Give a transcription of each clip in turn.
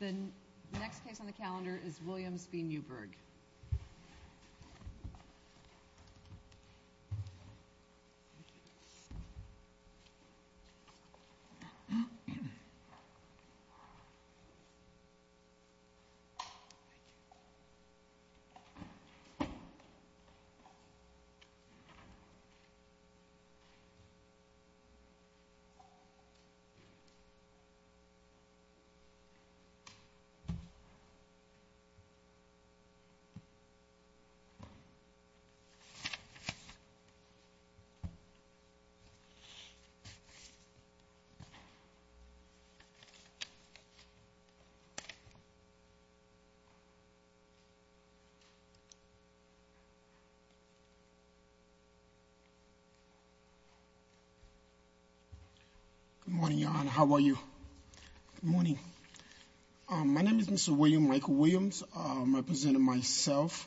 The next case on the calendar is Williams v. Newburg. Good morning, Your Honor, how are you? Good morning. My name is Mr. William Michael Williams. I'm representing myself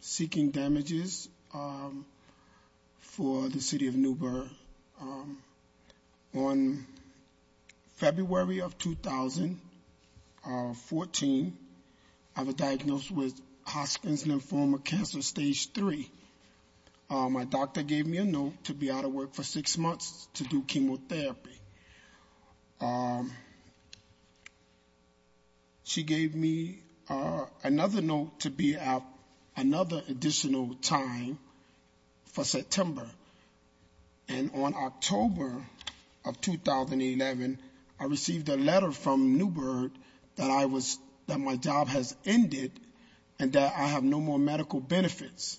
seeking damages for the City of Newburg. On February of 2014, I was diagnosed with Hodgkin's lymphoma cancer stage 3. My doctor gave me a note to be out of work for six months to do chemotherapy. She gave me another note to be out another additional time for September. And on October of 2011, I received a letter from Newburg that my job has ended and that I have no more medical benefits.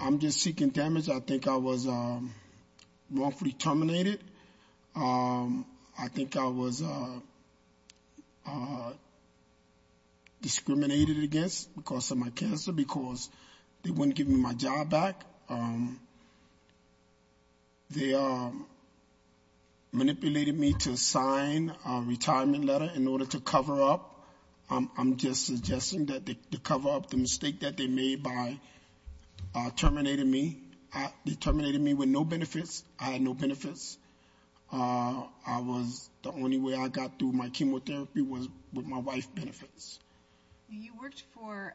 I'm just seeking damage. I think I was wrongfully terminated. I think I was discriminated against because of my cancer because they wouldn't give me my job back. They manipulated me to sign a retirement letter in order to cover up. I'm just suggesting that the cover-up, the mistake that they made by terminating me, they terminated me with no benefits. I had no benefits. The only way I got through my chemotherapy was with my wife's benefits. You worked for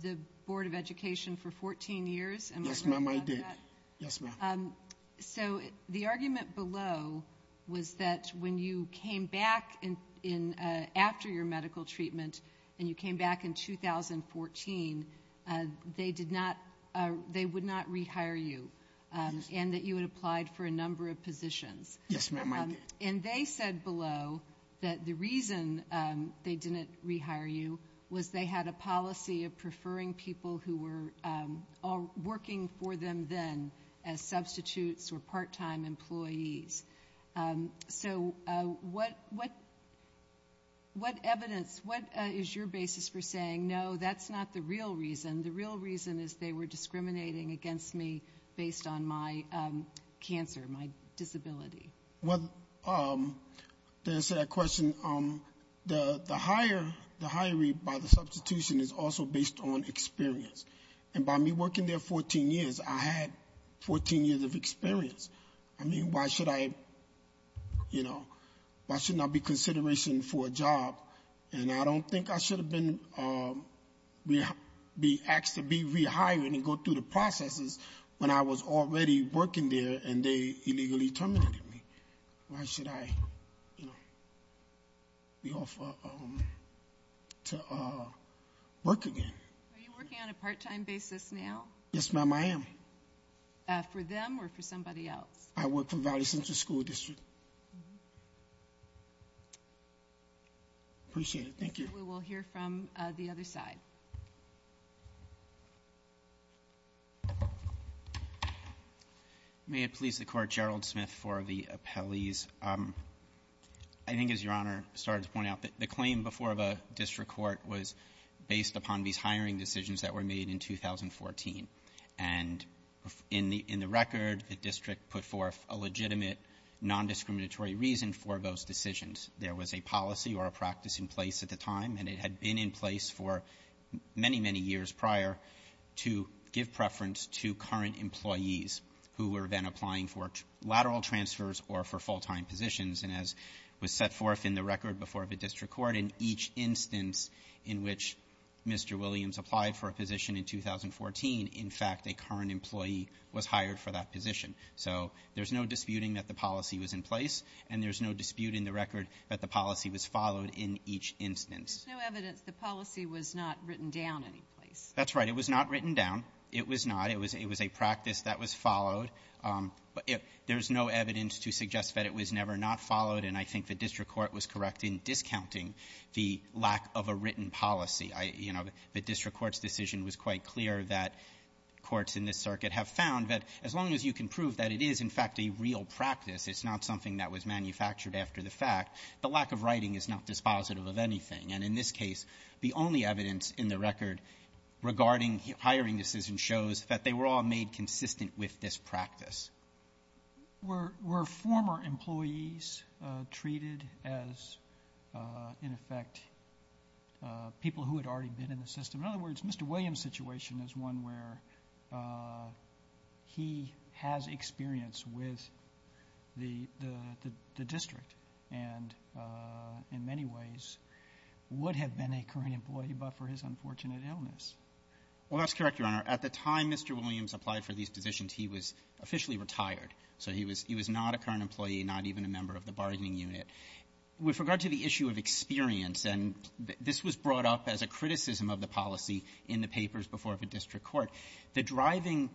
the Board of Education for 14 years. Yes, ma'am. I did. Yes, ma'am. So the argument below was that when you came back after your medical treatment and you came back in 2014, they would not rehire you and that you had applied for a number of positions. Yes, ma'am. I did. And they said below that the reason they didn't rehire you was they had a policy of preferring people who were working for them then as substitutes or part-time employees. So what evidence, what is your basis for saying, no, that's not the real reason? The real reason is they were discriminating against me based on my cancer, my disability. Well, to answer that question, the hiring by the substitution is also based on experience. And by me working there 14 years, I had 14 years of experience. I mean, why should I, you know, why should there not be consideration for a job? And I don't think I should have been asked to be rehired and go through the processes when I was already working there and they illegally terminated me. Why should I be offered to work again? Are you working on a part-time basis now? Yes, ma'am, I am. For them or for somebody else? I work for Valley Central School District. Appreciate it. Thank you. We will hear from the other side. May it please the Court. Gerald Smith for the appellees. I think, as Your Honor started to point out, the claim before the district court was based upon these hiring decisions that were made in 2014. And in the record, the district put forth a legitimate nondiscriminatory reason for those decisions. There was a policy or a practice in place at the time, and it had been in place for many, many years prior to give preference to current employees who were then applying for lateral transfers or for full-time positions. And as was set forth in the record before the district court, in each instance in which Mr. Williams applied for a position in 2014, in fact, a current employee was hired for that position. So there's no disputing that the policy was in place, and there's no dispute in the record that the policy was followed in each instance. There's no evidence the policy was not written down in any place. That's right. It was not written down. It was not. It was a practice that was followed. There's no evidence to suggest that it was never not followed, and I think the district court was correct in discounting the lack of a written policy. You know, the district court's decision was quite clear that courts in this circuit have found that as long as you can prove that it is, in fact, a real practice, it's not something that was manufactured after the fact, the lack of writing is not dispositive of anything. And in this case, the only evidence in the record regarding hiring decisions shows that they were all made consistent with this practice. Were former employees treated as, in effect, people who had already been in the system? In other words, Mr. Williams' situation is one where he has experience with the district and in many ways would have been a current employee but for his unfortunate illness. Well, that's correct, Your Honor. At the time Mr. Williams applied for these positions, he was officially retired. So he was not a current employee, not even a member of the bargaining unit. With regard to the issue of experience, and this was brought up as a criticism of the policy in the papers before the district court, the driving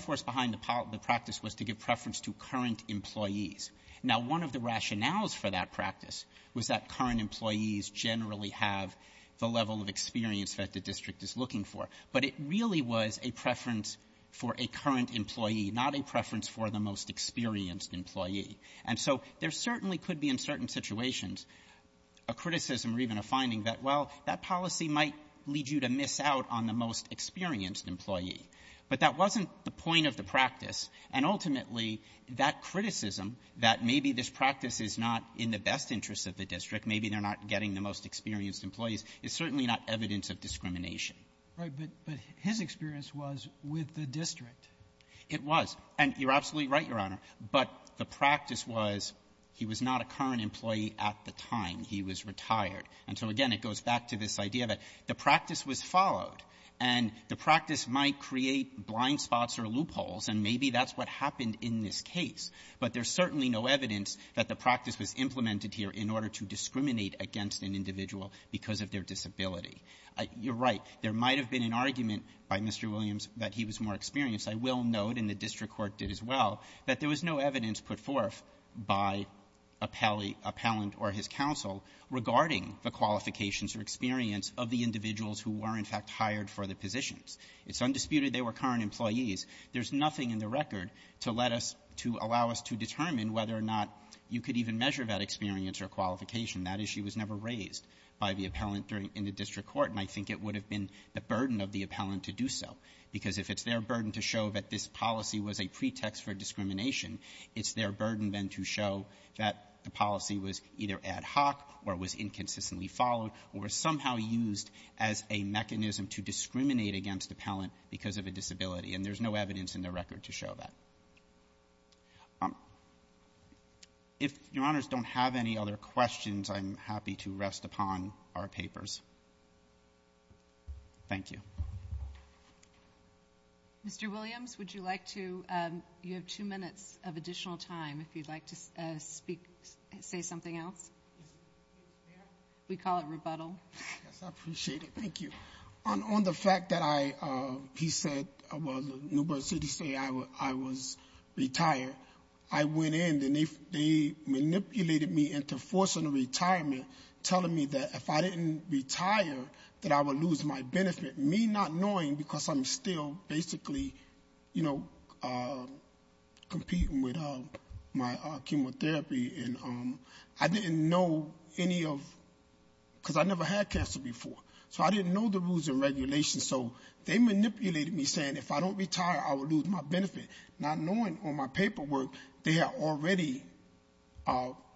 force behind the practice was to give preference to current employees. Now, one of the rationales for that practice was that current employees generally have the level of experience that the district is looking for. But it really was a preference for a current employee, not a preference for the most experienced employee. And so there certainly could be in certain situations a criticism or even a finding that, well, that policy might lead you to miss out on the most experienced employee. But that wasn't the point of the practice. And ultimately, that criticism that maybe this practice is not in the best interest of the district, maybe they're not getting the most experienced employees, is certainly not evidence of discrimination. Right. But his experience was with the district. It was. And you're absolutely right, Your Honor. But the practice was he was not a current employee at the time he was retired. And so, again, it goes back to this idea that the practice was followed. And the practice might create blind spots or loopholes, and maybe that's what happened in this case. But there's certainly no evidence that the practice was implemented here in order to discriminate against an individual because of their disability. You're right. There might have been an argument by Mr. Williams that he was more experienced. I will note, and the district court did as well, that there was no evidence put forth by appellate or his counsel regarding the qualifications or experience of the individuals who were, in fact, hired for the positions. It's undisputed they were current employees. There's nothing in the record to let us to allow us to determine whether or not you could even measure that experience or qualification. That issue was never raised by the appellant in the district court, and I think it would have been the burden of the appellant to do so. Because if it's their burden to show that this policy was a pretext for discrimination, it's their burden then to show that the policy was either ad hoc or was inconsistently followed or somehow used as a mechanism to discriminate against appellant because of a disability. And there's no evidence in the record to show that. If Your Honors don't have any other questions, I'm happy to rest upon our papers. Thank you. Mr. Williams, would you like to — you have two minutes of additional time if you'd like to speak — say something else. We call it rebuttal. Yes, I appreciate it. Thank you. On the fact that I — he said — well, Newburgh City say I was retired. I went in, and they manipulated me into forcing a retirement, telling me that if I didn't retire, that I would lose my benefit. Me not knowing because I'm still basically, you know, competing with my chemotherapy, and I didn't know any of — because I never had cancer before. So I didn't know the rules and regulations, so they manipulated me, saying if I don't retire, I would lose my benefit. Not knowing on my paperwork, they had already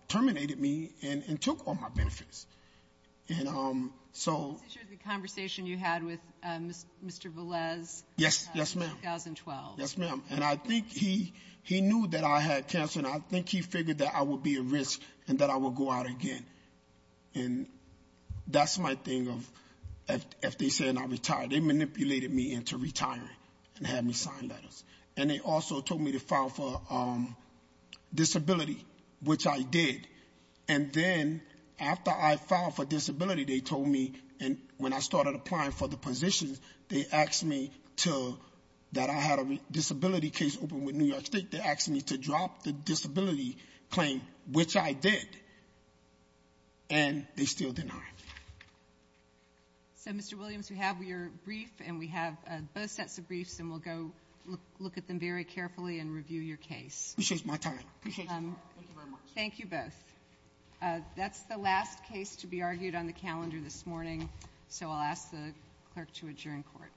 terminated me and took all my benefits. And so — This is the conversation you had with Mr. Velez — Yes, yes, ma'am. — in 2012. Yes, ma'am. And I think he — he knew that I had cancer, and I think he figured that I would be at risk and that I would go out again. And that's my thing of — if they said I retired, they manipulated me into retiring and had me sign letters. And they also told me to file for disability, which I did. And then after I filed for disability, they told me — and when I started applying for the positions, they asked me to — that I had a disability case open with New York State that asked me to drop the disability claim, which I did. And they still denied me. So, Mr. Williams, we have your brief, and we have both sets of briefs, and we'll go look at them very carefully and review your case. Appreciate my time. Appreciate your time. Thank you very much. Thank you both. That's the last case to be argued on the calendar this morning. So I'll ask the clerk to adjourn court. Court is adjourned.